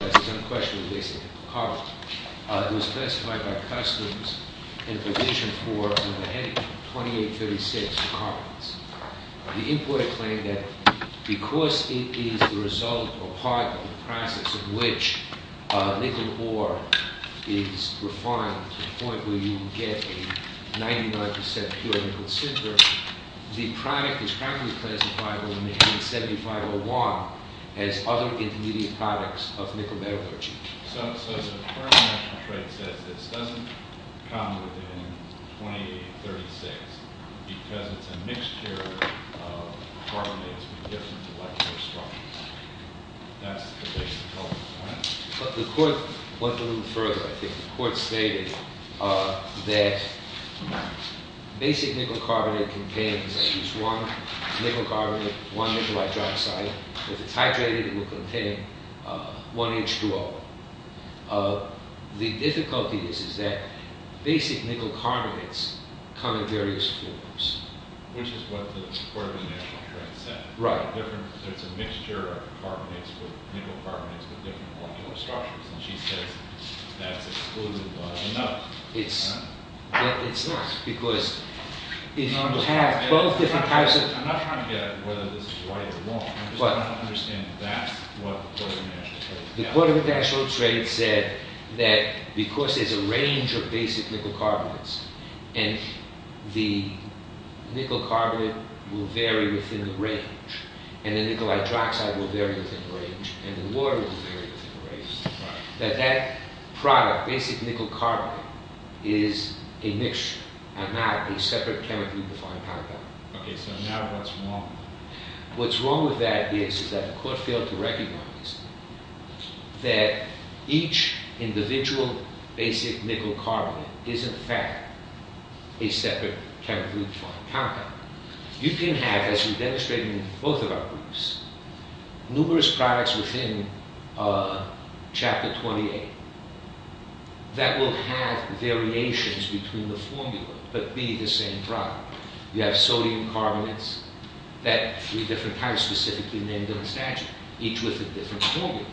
This is unquestionably a case of carbon. It was classified by Customs in provision for numberheading 2836 carbons. The importer claimed that because it is the result or part of the process in which nickel ore is refined to the point where you get a 99% pure nickel cinder, the product is practically classifiable in the Amendment 7501 as other intermediate products of nickel metallurgy. So the current national trade says this doesn't come within 2836 because it's a mixed carrier of carbonates with different molecular structures. That's the basic goal, right? The court went a little further, I think. The court stated that basic nickel carbonate contains at least one nickel carbonate, one nickel hydroxide. If it's hydrated it will contain one H2O. The difficulty is that basic nickel carbonates come in various forms. Which is what the court of the national trade said. Right. There's a mixture of carbonates with nickel carbonates with different molecular structures. And she says that's excluded, but it's not. It's not. I'm not trying to get at whether this is right or wrong. I'm just trying to understand if that's what the court of the national trade said. The court of the national trade said that because there's a range of basic nickel carbonates and the water is varied within the range, that that product, basic nickel carbonate, is a mixture and not a separate chemical-defined compound. Okay, so now what's wrong? What's wrong with that is that the court failed to recognize that each individual basic nickel carbonate is in fact a separate chemical-defined compound. You can have, as we demonstrated in both of our briefs, numerous products within chapter 28 that will have variations between the formula, but be the same product. You have sodium carbonates that are three different kinds, specifically named in the statute, each with a different formula.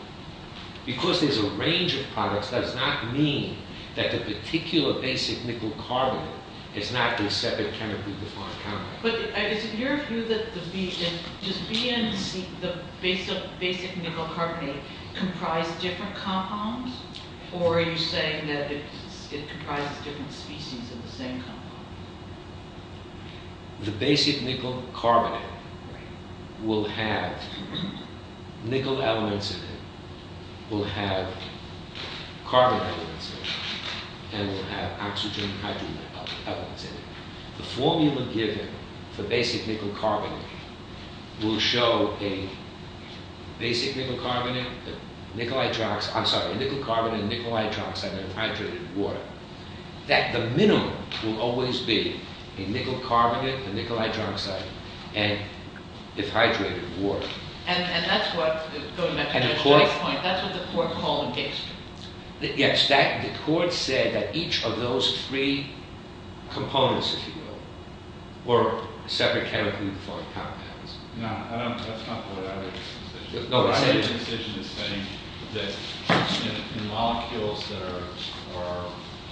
Because there's a range of products, that does not mean that the particular basic nickel carbonate is not a separate chemical-defined compound. But is it your view that just B and C, the basic nickel carbonate, comprise different compounds? Or are you saying that it comprises different species in the same compound? The basic nickel carbonate will have nickel elements in it, will have carbon elements in it, and will have oxygen hydrogen elements in it. The formula given for basic nickel carbonate will show a basic nickel carbonate, I'm sorry, a nickel carbonate, a nickel hydroxide, and a hydrated water. That the minimum will always be a nickel Yes, the court said that each of those three components, if you will, were separate chemical-defined compounds. No, that's not part of the decision. The decision is saying that the molecules that are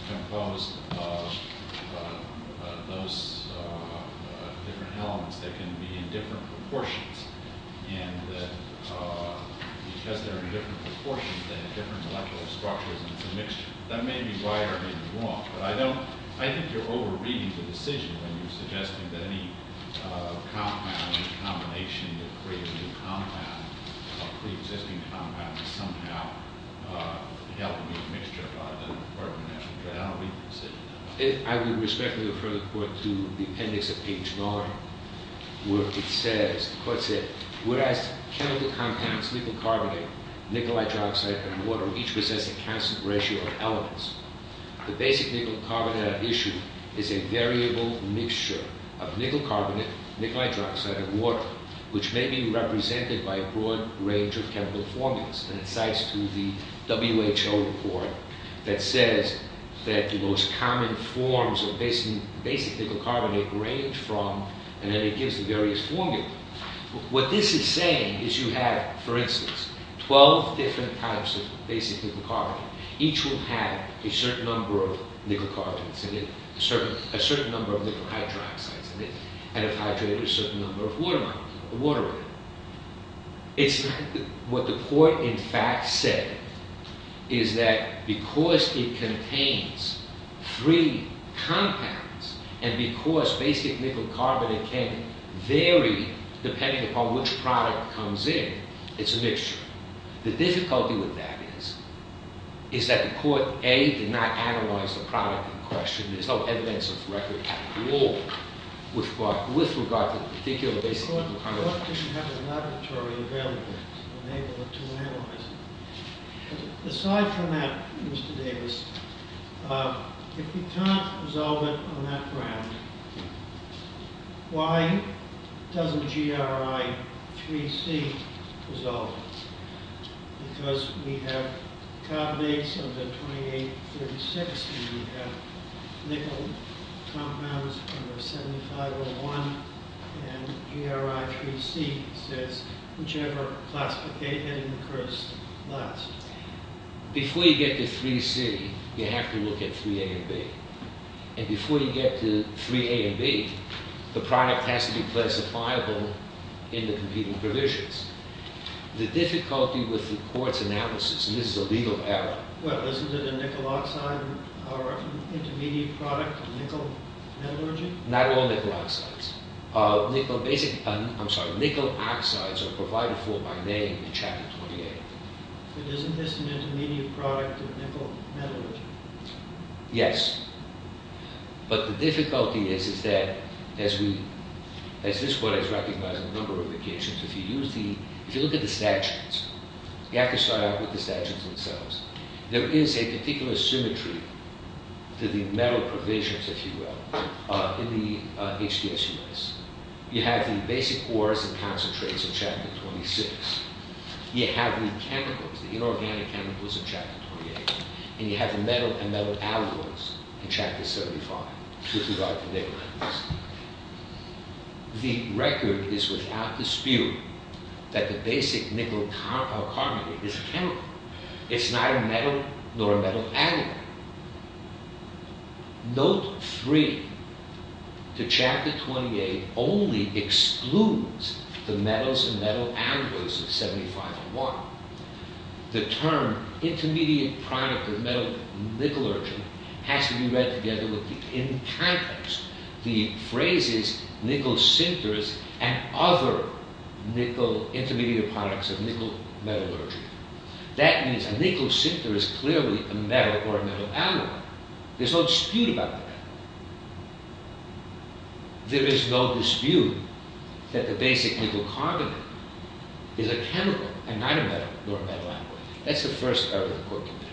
composed of those different elements, they can be in different proportions. And that because they're in different proportions, they have different molecular structures, and it's a mixture. That may be right or may be wrong. But I don't, I think you're over-reading the decision when you're suggesting that any compound or combination that creates a new compound, a pre-existing compound, is somehow helping a mixture by the carbonation. But I don't read the decision. I would respectfully refer the court to the appendix of H. Vaughan where it says, the court said, whereas chemical compounds, nickel carbonate, nickel hydroxide, and water each possess a constant ratio of elements, the basic nickel carbonate issue is a variable mixture of nickel carbonate, nickel hydroxide, and water, which may be represented by a broad range of chemical formulas. And it cites to the WHO report that says that the most common forms of basic nickel carbonate range from, and then it gives the various formulas. What this is saying is you have, for instance, 12 different types of basic nickel carbonate. Each will have a certain number of nickel carbonates in it, a certain number of nickel hydroxides in it, and if hydrated, a certain number of water in it. What the court, in fact, said is that because it contains three compounds, and because basic nickel carbonate can vary depending upon which product comes in, it's a mixture. The difficulty with that is that the court, A, did not analyze the product in question. There's no evidence of record rule with regard to the particular basic nickel carbonate. The court didn't have a laboratory available to enable it to analyze it. Aside from that, Mr. Davis, if you can't resolve it on that ground, why doesn't GRI 3C resolve it? Because we have carbonates of the 2836, and we have nickel compounds of the 7501, and GRI 3C says whichever classification occurs last. Before you get to 3C, you have to look at 3A and B. And before you get to 3A and B, the product has to be classifiable in the competing provisions. The difficulty with the court's analysis, and this is a legal error... Well, isn't it a nickel oxide or intermediate product of nickel metallurgy? Not all nickel oxides. Nickel oxides are provided for by name in Chapter 28. But isn't this an intermediate product of nickel metallurgy? Yes. But the difficulty is that, as this court has recognized on a number of occasions, if you look at the statutes, you have to start out with the statutes themselves. There is a particular symmetry to the metal provisions, if you will, in the HDSUS. You have the basic ores and concentrates in Chapter 26. You have the chemicals, the inorganic chemicals in Chapter 28. And you have the metal and metal alloys in Chapter 75, with regard to nickel alloys. The record is without dispute that the basic nickel carbonate is a chemical. It's neither metal nor a metal alloy. Note 3. The Chapter 28 only excludes the metals and metal alloys of 75 and 1. The term, intermediate product of nickel metallurgy, has to be read together with the encompass, the phrases, nickel sinters, and other nickel intermediate products of nickel metallurgy. That means a nickel sinter is clearly a metal or a metal alloy. There's no dispute about that. There is no dispute that the basic nickel carbonate is a chemical and not a metal or a metal alloy. That's the first error of the Court Committee.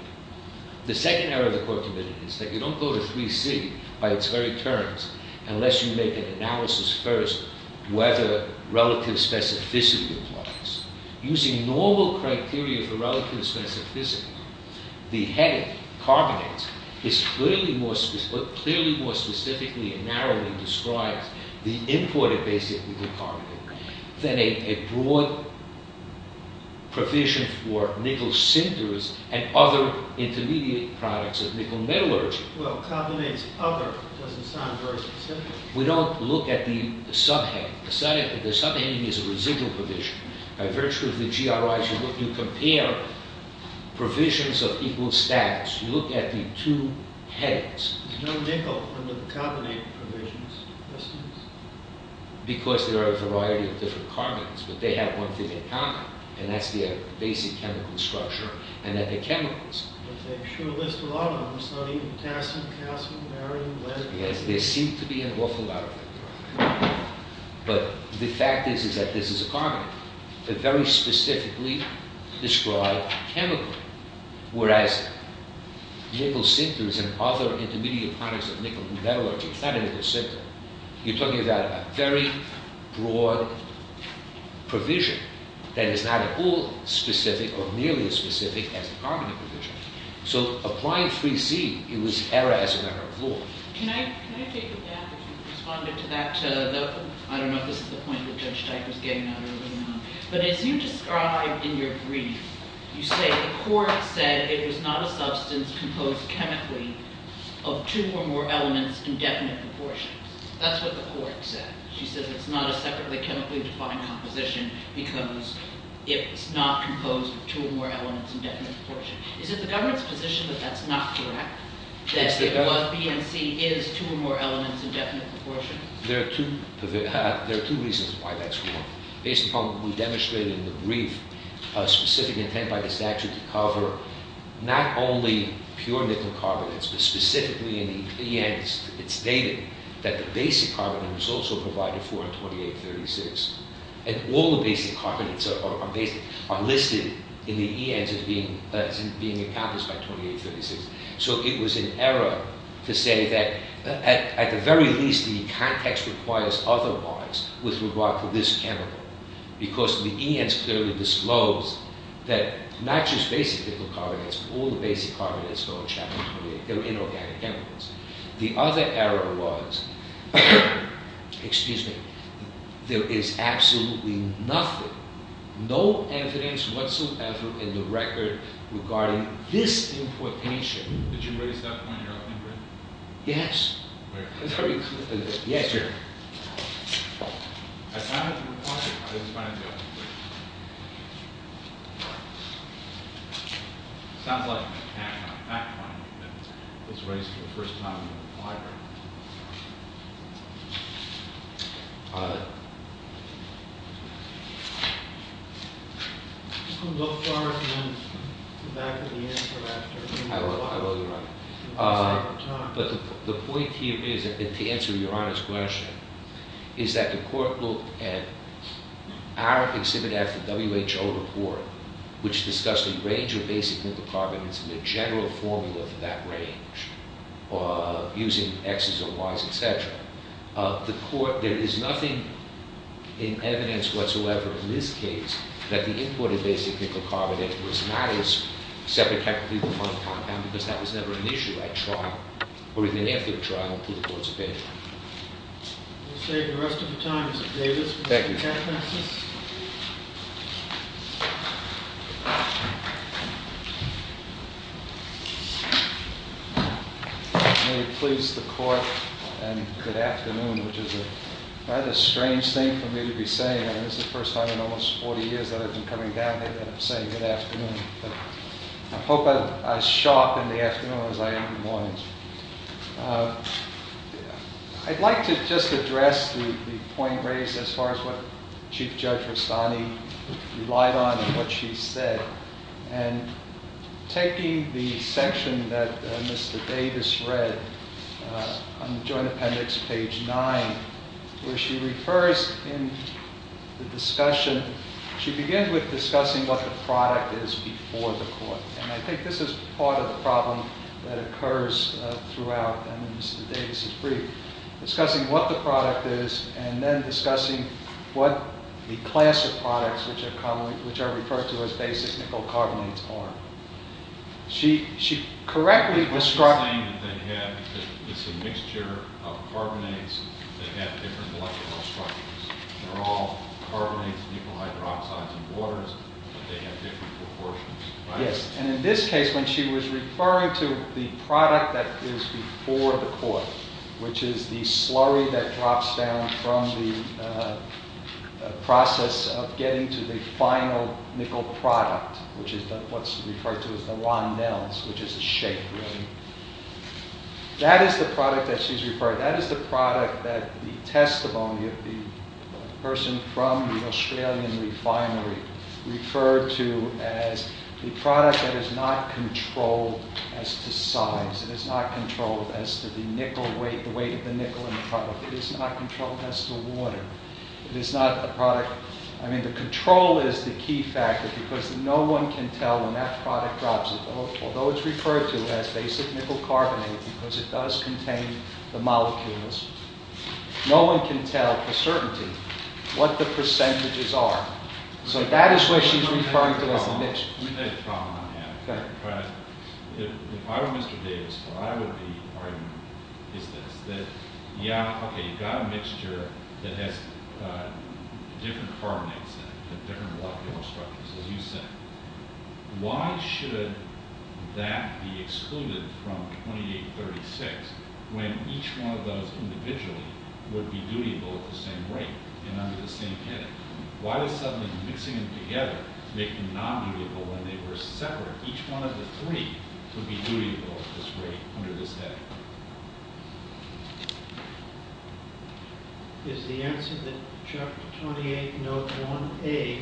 The second error of the Court Committee is that you don't go to 3C by its very terms unless you make an analysis first whether relative specificity applies. Using normal criteria for relative specificity, the head of carbonate is clearly more specifically and narrowly described, the imported basic nickel carbonate, than a broad provision for nickel sinters and other intermediate products of nickel metallurgy. Well, carbonate's other doesn't sound very specific. We don't look at the subheading. The subheading is a residual provision. By virtue of the GRIs, you compare provisions of equal status. You look at the two headings. Because there are a variety of different carbonates, but they have one thing in common, and that's their basic chemical structure and that they're chemicals. But they sure list a lot of them. It's not even potassium, calcium, barium, lead. Yes, there seem to be an awful lot of them. But the fact is that this is a carbonate, but very specifically described chemically, whereas nickel sinters and other intermediate products of nickel metallurgy, it's not a nickel sinter. You're talking about a very broad provision that is not at all specific or nearly as specific as the carbonate provision. So applying 3C, it was error as a matter of law. Can I take a dab at responding to that? I don't know if this is the point that Judge Teich was getting at earlier on, but as you describe in your brief, you say the court said it was not a substance composed chemically of two or more elements in definite proportions. That's what the court said. She said it's not a separately chemically defined composition because it's not composed of two or more elements in definite proportions. Is it the government's position that that's not correct? That BNC is two or more elements in definite proportions? There are two reasons why that's wrong. Based upon what we demonstrated in the brief, a specific intent by the statute to cover not only pure nickel carbonates, but specifically in the EN, it's stated that the basic carbonate was also provided for in 2836. And all the basic carbonates are listed in the ENs as being encompassed by 2836. So it was an error to say that at the very least the context requires otherwise with regard to this chemical. Because the ENs clearly disclose that not just basic nickel carbonates, but all the basic carbonates are in Chapter 28. They're inorganic chemicals. The other error was, excuse me, there is absolutely nothing, no evidence whatsoever in the record regarding this importation. Did you raise that point in your opening brief? Yes. Yes, sir. I have a question. It sounds like an attack on a fact point that was raised for the first time in the library. I'll go first and then come back to the answer after. I will, Your Honor. But the point here is, and to answer Your Honor's question, is that the court looked at our exhibit at the WHO report, which discussed a range of basic nickel carbonates and the general formula for that range, using Xs and Ys, etc. The court, there is nothing in evidence whatsoever in this case that the import of basic nickel carbonate was not as separate because that was never an issue at trial, or even after the trial, through the courts opinion. We'll save the rest of the time. Is it Davis? Thank you. May it please the court and good afternoon, which is a rather strange thing for me to be saying. I mean, this is the first time in almost 40 years that I've been coming down here and saying good afternoon. I hope I show up in the afternoon as I am in the morning. I'd like to just address the point raised as far as what Chief Judge Rustani relied on and what she said. Taking the section that Mr. Davis read on the Joint Appendix, page 9, where she refers in the discussion, she begins with discussing what the product is before the court. And I think this is part of the problem that occurs throughout. I mean, Mr. Davis is brief. Discussing what the product is and then discussing what the class of products, which are referred to as basic nickel carbonates, are. I'm just saying that it's a mixture of carbonates that have different molecular structures. They're all carbonates, nickel hydroxides, and waters, but they have different proportions. Yes, and in this case, when she was referring to the product that is before the court, which is the slurry that drops down from the process of getting to the final nickel product, which is what's referred to as the Rondelles, which is a shape. That is the product that she's referring to. That is the product that the testimony of the person from the Australian refinery referred to as the product that is not controlled as to size. It is not controlled as to the weight of the nickel in the product. It is not controlled as to water. I mean, the control is the key factor because no one can tell when that product drops. Although it's referred to as basic nickel carbonate because it does contain the molecules, no one can tell for certainty what the percentages are. So that is where she's referring to as the mixture. We've had a problem on that. If I were Mr. Davis, what I would be arguing is this, that, yeah, okay, you've got a mixture that has different carbonates in it, but different molecular structures, as you said. Why should that be excluded from 2836 when each one of those individually would be dutiable at the same rate and under the same heading? Why does suddenly mixing them together make them non-dutable when they were separate, each one of the three would be dutiable at this rate under this heading? Is the answer that chapter 28, note 1A,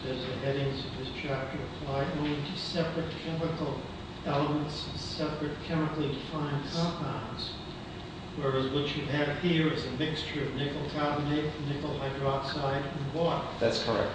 says the headings of this chapter apply only to separate chemical elements, separate chemically defined compounds, whereas what you have here is a mixture of nickel carbonate, nickel hydroxide, and water. That's correct.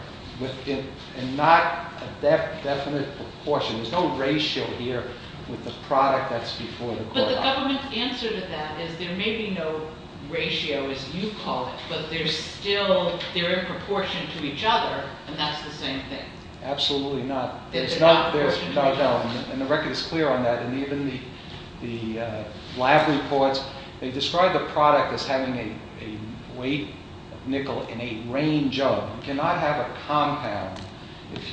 And not a definite proportion. There's no ratio here with the product that's before the product. The government's answer to that is there may be no ratio, as you call it, but they're still, they're in proportion to each other, and that's the same thing. Absolutely not. And the record is clear on that. And even the lab reports, they describe the product as having a weight of nickel in a range of, you cannot have a compound if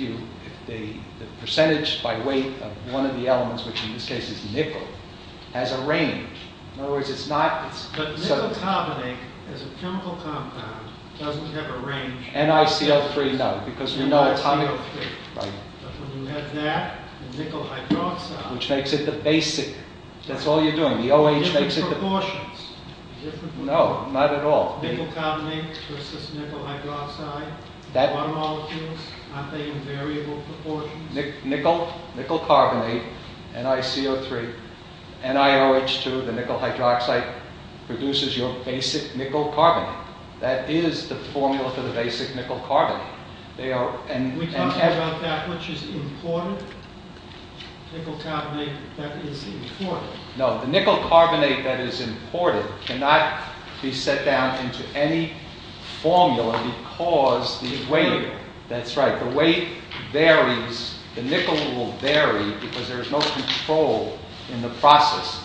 the percentage by weight of one of the elements, which in this case is nickel, has a range. In other words, it's not... But nickel carbonate as a chemical compound doesn't have a range. NiCO3, no, because we know it's highly... NiCO3. Right. But when you have that and nickel hydroxide... Which makes it the basic. That's all you're doing. The OH makes it the... Different proportions. No, not at all. Nickel carbonate versus nickel hydroxide, water molecules, aren't they in variable proportions? Nickel carbonate, NiCO3, NiOH2, the nickel hydroxide, produces your basic nickel carbonate. That is the formula for the basic nickel carbonate. They are... We talked about that, which is important. Nickel carbonate, that is important. No, the nickel carbonate that is important cannot be set down into any formula because the weight... That's right. If the weight varies, the nickel will vary because there is no control in the process.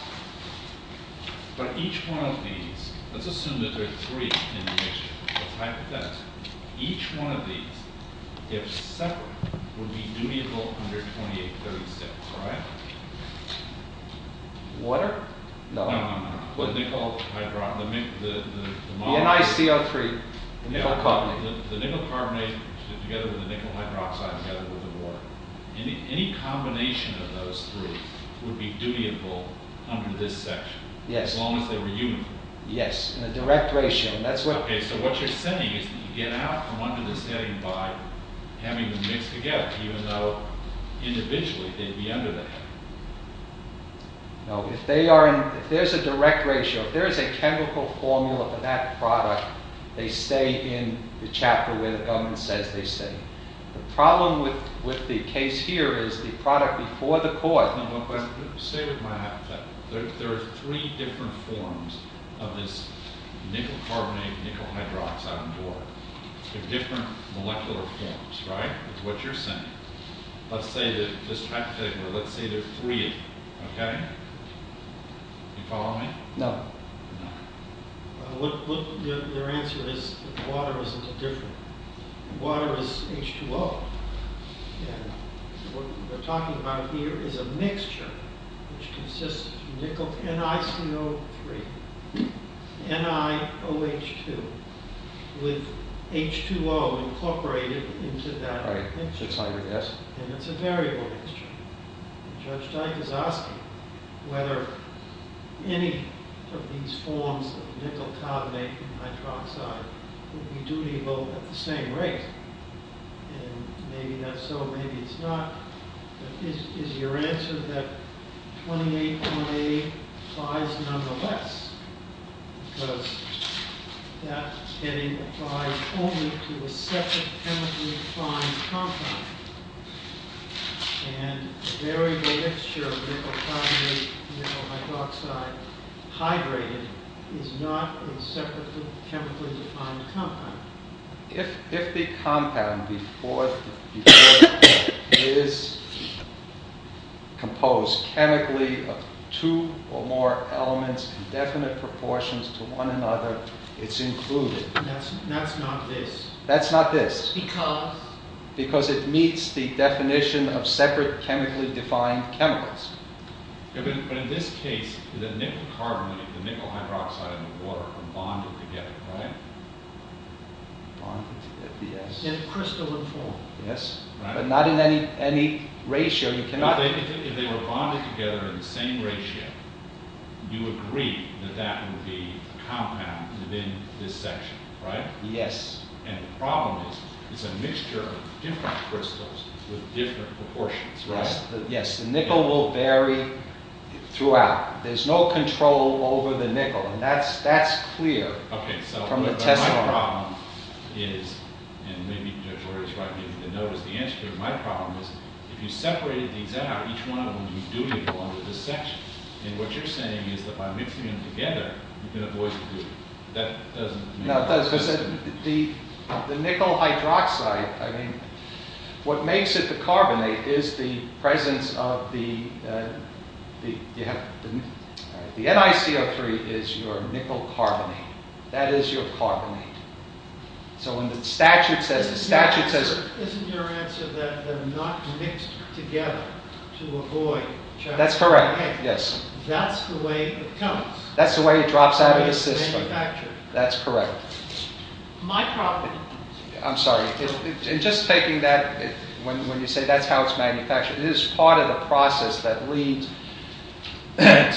But each one of these... Let's assume that there are three in the mixture. What's the hypothesis? Each one of these, if separate, would be dutyable under 2836, right? Water? No, no, no. The nickel hydroxide... The NiCO3, the nickel carbonate. The nickel carbonate together with the nickel hydroxide together with the water. Any combination of those three would be dutyable under this section. Yes. As long as they were uniform. Yes, in a direct ratio. Okay, so what you're saying is that you get out from under the setting by having them mixed together, even though individually they'd be under that. No, if they are in... If there's a direct ratio, if there is a chemical formula for that product, they stay in the chapter where the government says they stay. The problem with the case here is the product before the court... No, but stay with my hypothetical. There are three different forms of this nickel carbonate, nickel hydroxide and water. They're different molecular forms, right? That's what you're saying. Let's say that... Just hypothetically, let's say there are three of them. Okay? Are you following me? No. No. Your answer is water isn't different. Water is H2O. What we're talking about here is a mixture which consists of nickel NiCO3, NiOH2, with H2O incorporated into that mixture. Right, just like this. And it's a variable mixture. Judge Dike is asking whether any of these forms of nickel carbonate and hydroxide would be dutiful at the same rate. And maybe that's so, maybe it's not. But is your answer that 28.8 applies nonetheless? Because that heading applies only to a separate chemically-defined compound. And a variable mixture of nickel carbonate, nickel hydroxide, hydrated, is not a separate chemically-defined compound. If the compound before it is composed chemically of two or more elements in definite proportions to one another, it's included. That's not this. That's not this. Because? Because it meets the definition of separate chemically-defined chemicals. But in this case, the nickel carbonate, the nickel hydroxide, and the water are bonded together, right? Bonded together, yes. In crystalline form. Yes, but not in any ratio. If they were bonded together in the same ratio, you agree that that would be the compound within this section, right? Yes. And the problem is, it's a mixture of different crystals with different proportions, right? Yes. The nickel will vary throughout. There's no control over the nickel. And that's clear from the test form. Okay, so my problem is, and maybe George is right, maybe he didn't notice, the answer to my problem is, if you separated these out, each one of them would do nickel under this section. And what you're saying is that by mixing them together, you can avoid the group. That doesn't make sense. The nickel hydroxide, I mean, what makes it the carbonate is the presence of the... The NiCO3 is your nickel carbonate. That is your carbonate. So when the statute says... Isn't your answer that they're not mixed together to avoid... That's correct, yes. That's the way it comes. That's the way it drops out of the system. It's manufactured. That's correct. My problem... I'm sorry. In just taking that, when you say that's how it's manufactured, it is part of the process that leads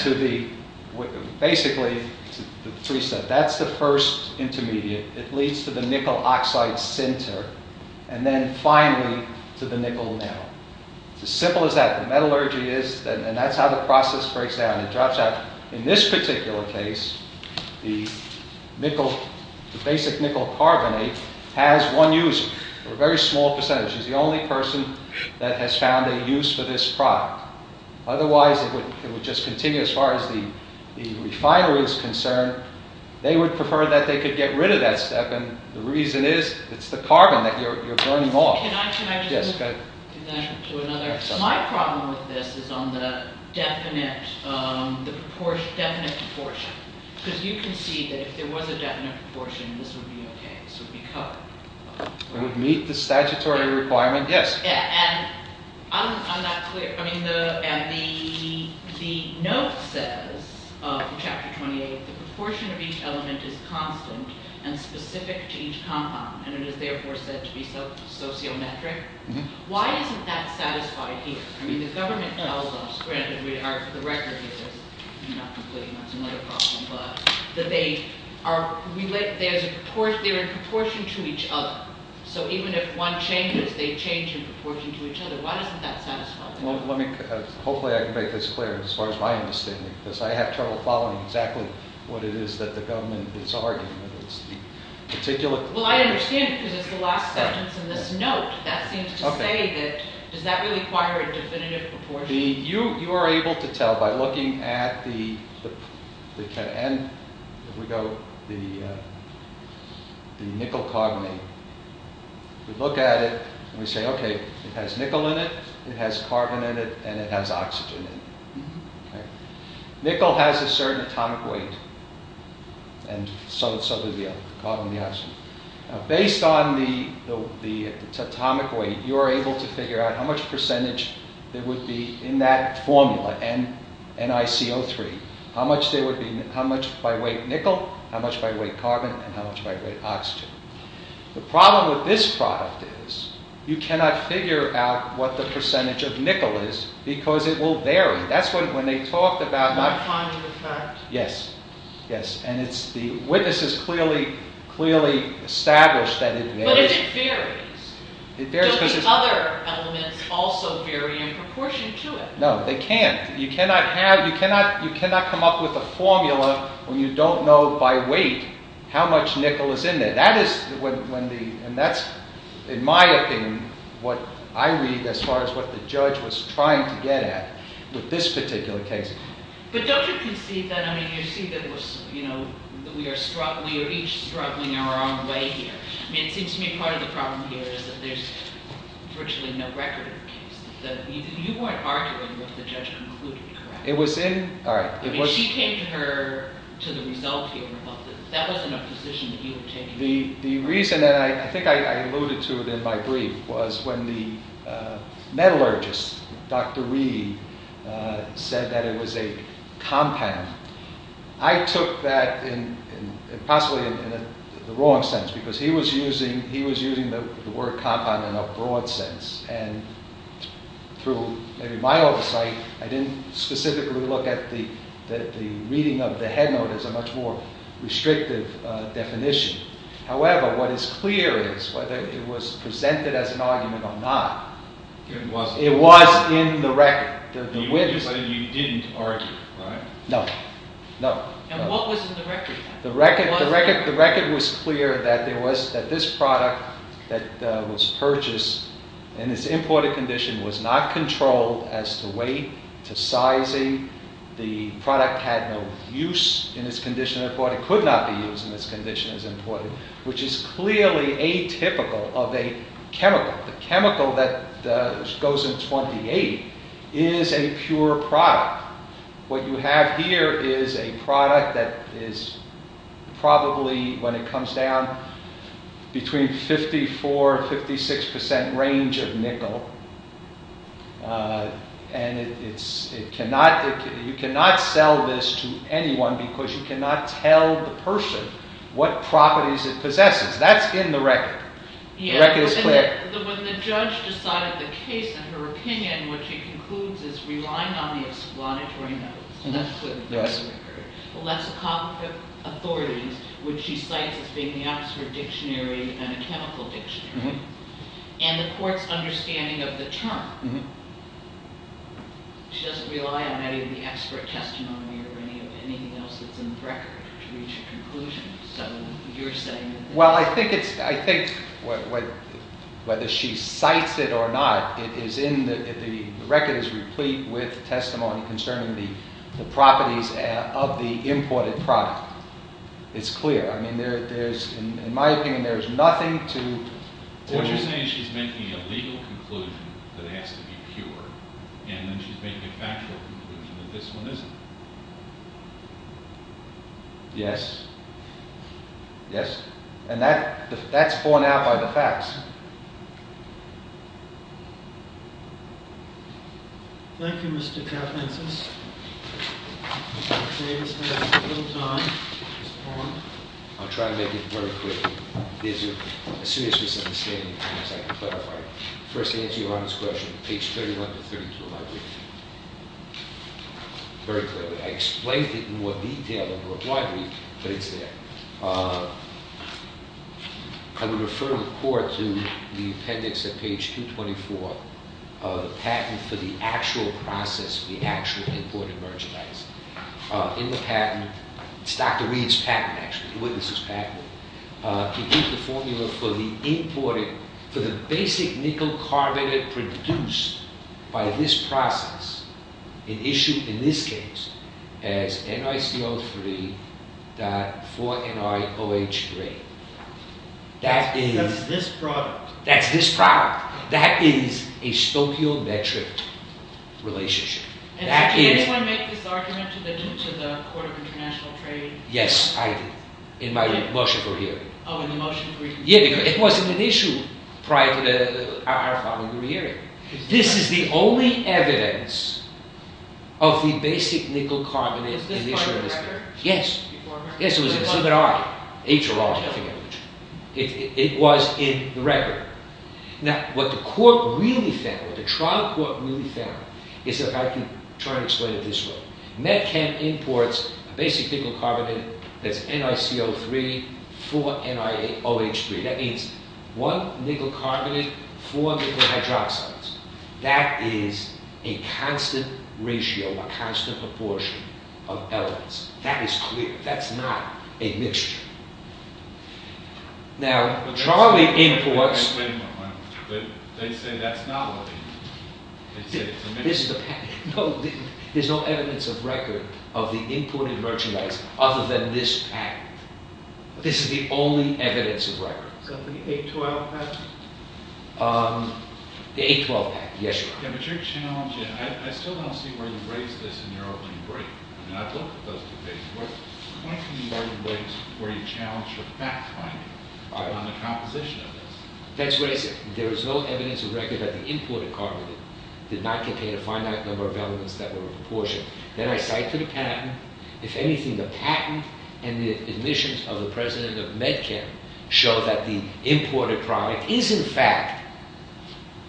to the... Basically, the three steps. That's the first intermediate. It leads to the nickel oxide center. And then finally to the nickel now. It's as simple as that. The metallurgy is... And that's how the process breaks down. It drops out. In this particular case, the nickel... The basic nickel carbonate has one user. A very small percentage. It's the only person that has found a use for this product. Otherwise, it would just continue as far as the refiner is concerned. They would prefer that they could get rid of that step. And the reason is it's the carbon that you're burning off. Can I just... Yes, go ahead. My problem with this is on the definite... The definite proportion. Because you can see that if there was a definite proportion, this would be okay. This would be covered. It would meet the statutory requirement. Yes. Yeah, and... I'm not clear. I mean, the... The note says, in Chapter 28, the proportion of each element is constant and specific to each compound. And it is therefore said to be sociometric. Why isn't that satisfied here? I mean, the government tells us, granted we are, for the record, not completely, that's another problem, but that they are... There's a proportion... They're in proportion to each other. So even if one changes, they change in proportion to each other. Why doesn't that satisfy? Well, let me... Hopefully, I can make this clear as far as my understanding. Because I have trouble following exactly what it is that the government is arguing. It's the particular... Well, I understand because it's the last sentence in this note. That seems to say that... Okay. Does that really require a definitive proportion? You are able to tell by looking at the... If we go... The nickel-carbonate. We look at it, and we say, okay, it has nickel in it, it has carbon in it, and it has oxygen in it. Nickel has a certain atomic weight, and so does the carbon and the oxygen. Based on the atomic weight, you are able to figure out how much percentage there would be in that formula, NiCO3. How much by weight nickel, how much by weight carbon, and how much by weight oxygen. The problem with this product is you cannot figure out what the percentage of nickel is because it will vary. That's when they talked about... Not finding the fact. Yes. Yes, and it's... The witnesses clearly established that it varies. But if it varies, don't the other elements also vary in proportion to it? No, they can't. You cannot have... You cannot come up with a formula when you don't know by weight how much nickel is in there. That is when the... And that's, in my opinion, what I read as far as what the judge was trying to get at with this particular case. But don't you conceive that... I mean, you see that we're... You know, we are each struggling our own way here. I mean, it seems to me part of the problem here is that there's virtually no record of cases that... You weren't arguing what the judge concluded, correct? It was in... All right, it was... I mean, she came to her... To the result here about this. That wasn't a position that you had taken. The reason that I... I think I alluded to it in my brief was when the metallurgist, Dr. Reed, said that it was a compound. I took that in... Possibly in the wrong sense because he was using... He was using the word compound in a broad sense. And through my oversight, I didn't specifically look at the reading of the headnote as a much more restrictive definition. However, what is clear is whether it was presented as an argument or not. It was in the record. You didn't argue, right? No, no. And what was in the record? The record was clear that this product that was purchased in its imported condition was not controlled as to weight, to sizing. The product had no use in its condition. It could not be used in its condition as imported, which is clearly atypical of a chemical. The chemical that goes in 28 is a pure product. What you have here is a product that is probably, when it comes down, between 54-56% range of nickel. And you cannot sell this to anyone because you cannot tell the person what properties it possesses. That's in the record. The record is clear. When the judge decided the case, in her opinion, what she concludes is relying on the explanatory notes. That's what's in the record. The less competent authorities, which she cites as being the Oxford Dictionary and a chemical dictionary, and the court's understanding of the term. She doesn't rely on any of the expert testimony or anything else that's in the record to reach a conclusion. So you're saying... Well, I think it's... I think whether she cites it or not, it is in the... The record is replete with testimony concerning the properties of the imported product. It's clear. I mean, there's... In my opinion, there's nothing to... What you're saying is she's making a legal conclusion that has to be pure, and then she's making a factual conclusion that this one isn't. Yes. Yes. And that's borne out by the facts. Thank you, Mr. Kaplan. Mr. Francis? I'll try to make it very clear. There's a serious misunderstanding, if I can clarify. First, to answer your Honor's question, page 31 to 32 of my brief. Very clearly. I explained it in more detail over a brief, but it's there. I would refer the court to the appendix at page 224 of the patent for the actual process, the actual imported merchandise. In the patent... It's Dr. Reed's patent, actually. He witnessed his patent. He gave the formula for the imported... for the basic nickel carbonate produced by this process and issued, in this case, as NiCO3.4NiOH3. That is... That's this product. That's this product. That is a stoichiometric relationship. Did anyone make this argument to the Court of International Trade? Yes, I did. In my motion for hearing. Oh, in the motion for your hearing. Yeah, because it wasn't an issue prior to our following hearing. This is the only evidence of the basic nickel carbonate in issue in this case. Is this part of the record? Yes. Yes, it was. So did I. It was in the record. Now, what the court really found, what the trial court really found, is that I can try to explain it this way. MedCamp imports a basic nickel carbonate that's NiCO3.4NiOH3. That means one nickel carbonate, four nickel hydroxides. That is a constant ratio, a constant proportion of elements. That is clear. That's not a mixture. Now, Charlie imports... But they say that's not a mixture. This is the patent. No, there's no evidence of record of the imported merchandise other than this patent. This is the only evidence of record. So the 812 patent? The 812 patent, yes, Your Honor. Yeah, but you're challenging... I still don't see where you raise this in your opening break. I mean, I've looked at those two cases. Why couldn't you open breaks where you challenge for fact-finding on the composition of this? That's what I said. There is no evidence of record that the imported carbonate did not contain a finite number of elements that were in proportion. Then I cite to the patent. If anything, the patent and the admissions of the president of MedCamp show that the imported product is in fact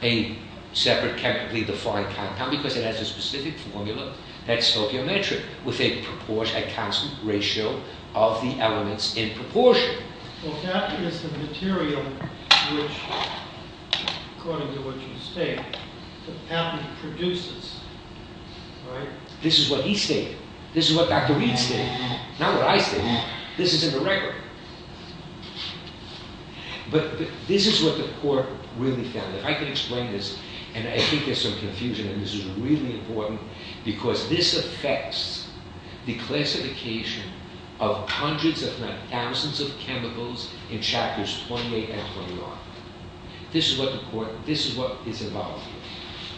a separate chemically defined compound because it has a specific formula that's stoichiometric with a constant ratio of the elements in proportion. Well, cation is the material which, according to what you state, the patent produces, right? This is what he stated. This is what Dr. Reed stated. Not what I stated. This is in the record. But this is what the court really found. If I can explain this, and I think there's some confusion, and this is really important, because this affects the classification of hundreds, if not thousands, of chemicals in chapters 28 and 29. This is what the court, this is what is involved here.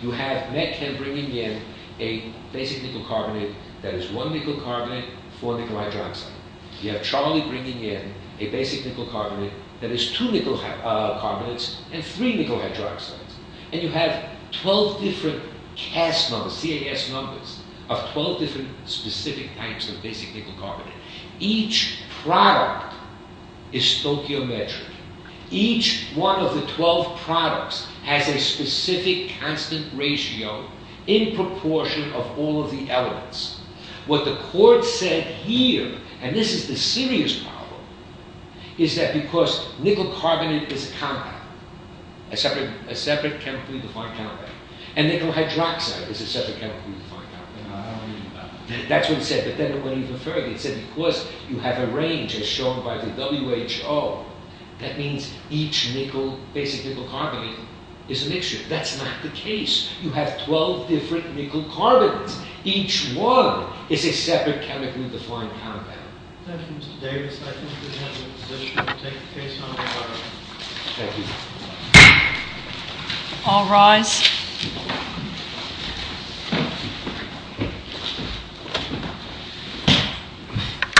You have MedCamp bringing in a basic nickel carbonate that is one nickel carbonate, four nickel hydroxide. You have Charlie bringing in a basic nickel carbonate that is two nickel carbonates and three nickel hydroxides. And you have 12 different CAS numbers, CAS numbers, of 12 different specific types of basic nickel carbonate. Each product is stoichiometric. Each one of the 12 products has a specific constant ratio in proportion of all of the elements. What the court said here, and this is the serious problem, is that because nickel carbonate is a compound, a separate chemically defined compound, and nickel hydroxide is a separate chemically defined compound. That's what it said. But then it went even further. It said, of course, you have a range as shown by the WHO. That means each nickel, basic nickel carbonate, is a mixture. That's not the case. You have 12 different nickel carbons. Each one is a separate chemically defined compound. Thank you, Mr. Davis. I think we have a decision to take the case on the floor. Thank you. All rise. Thank you.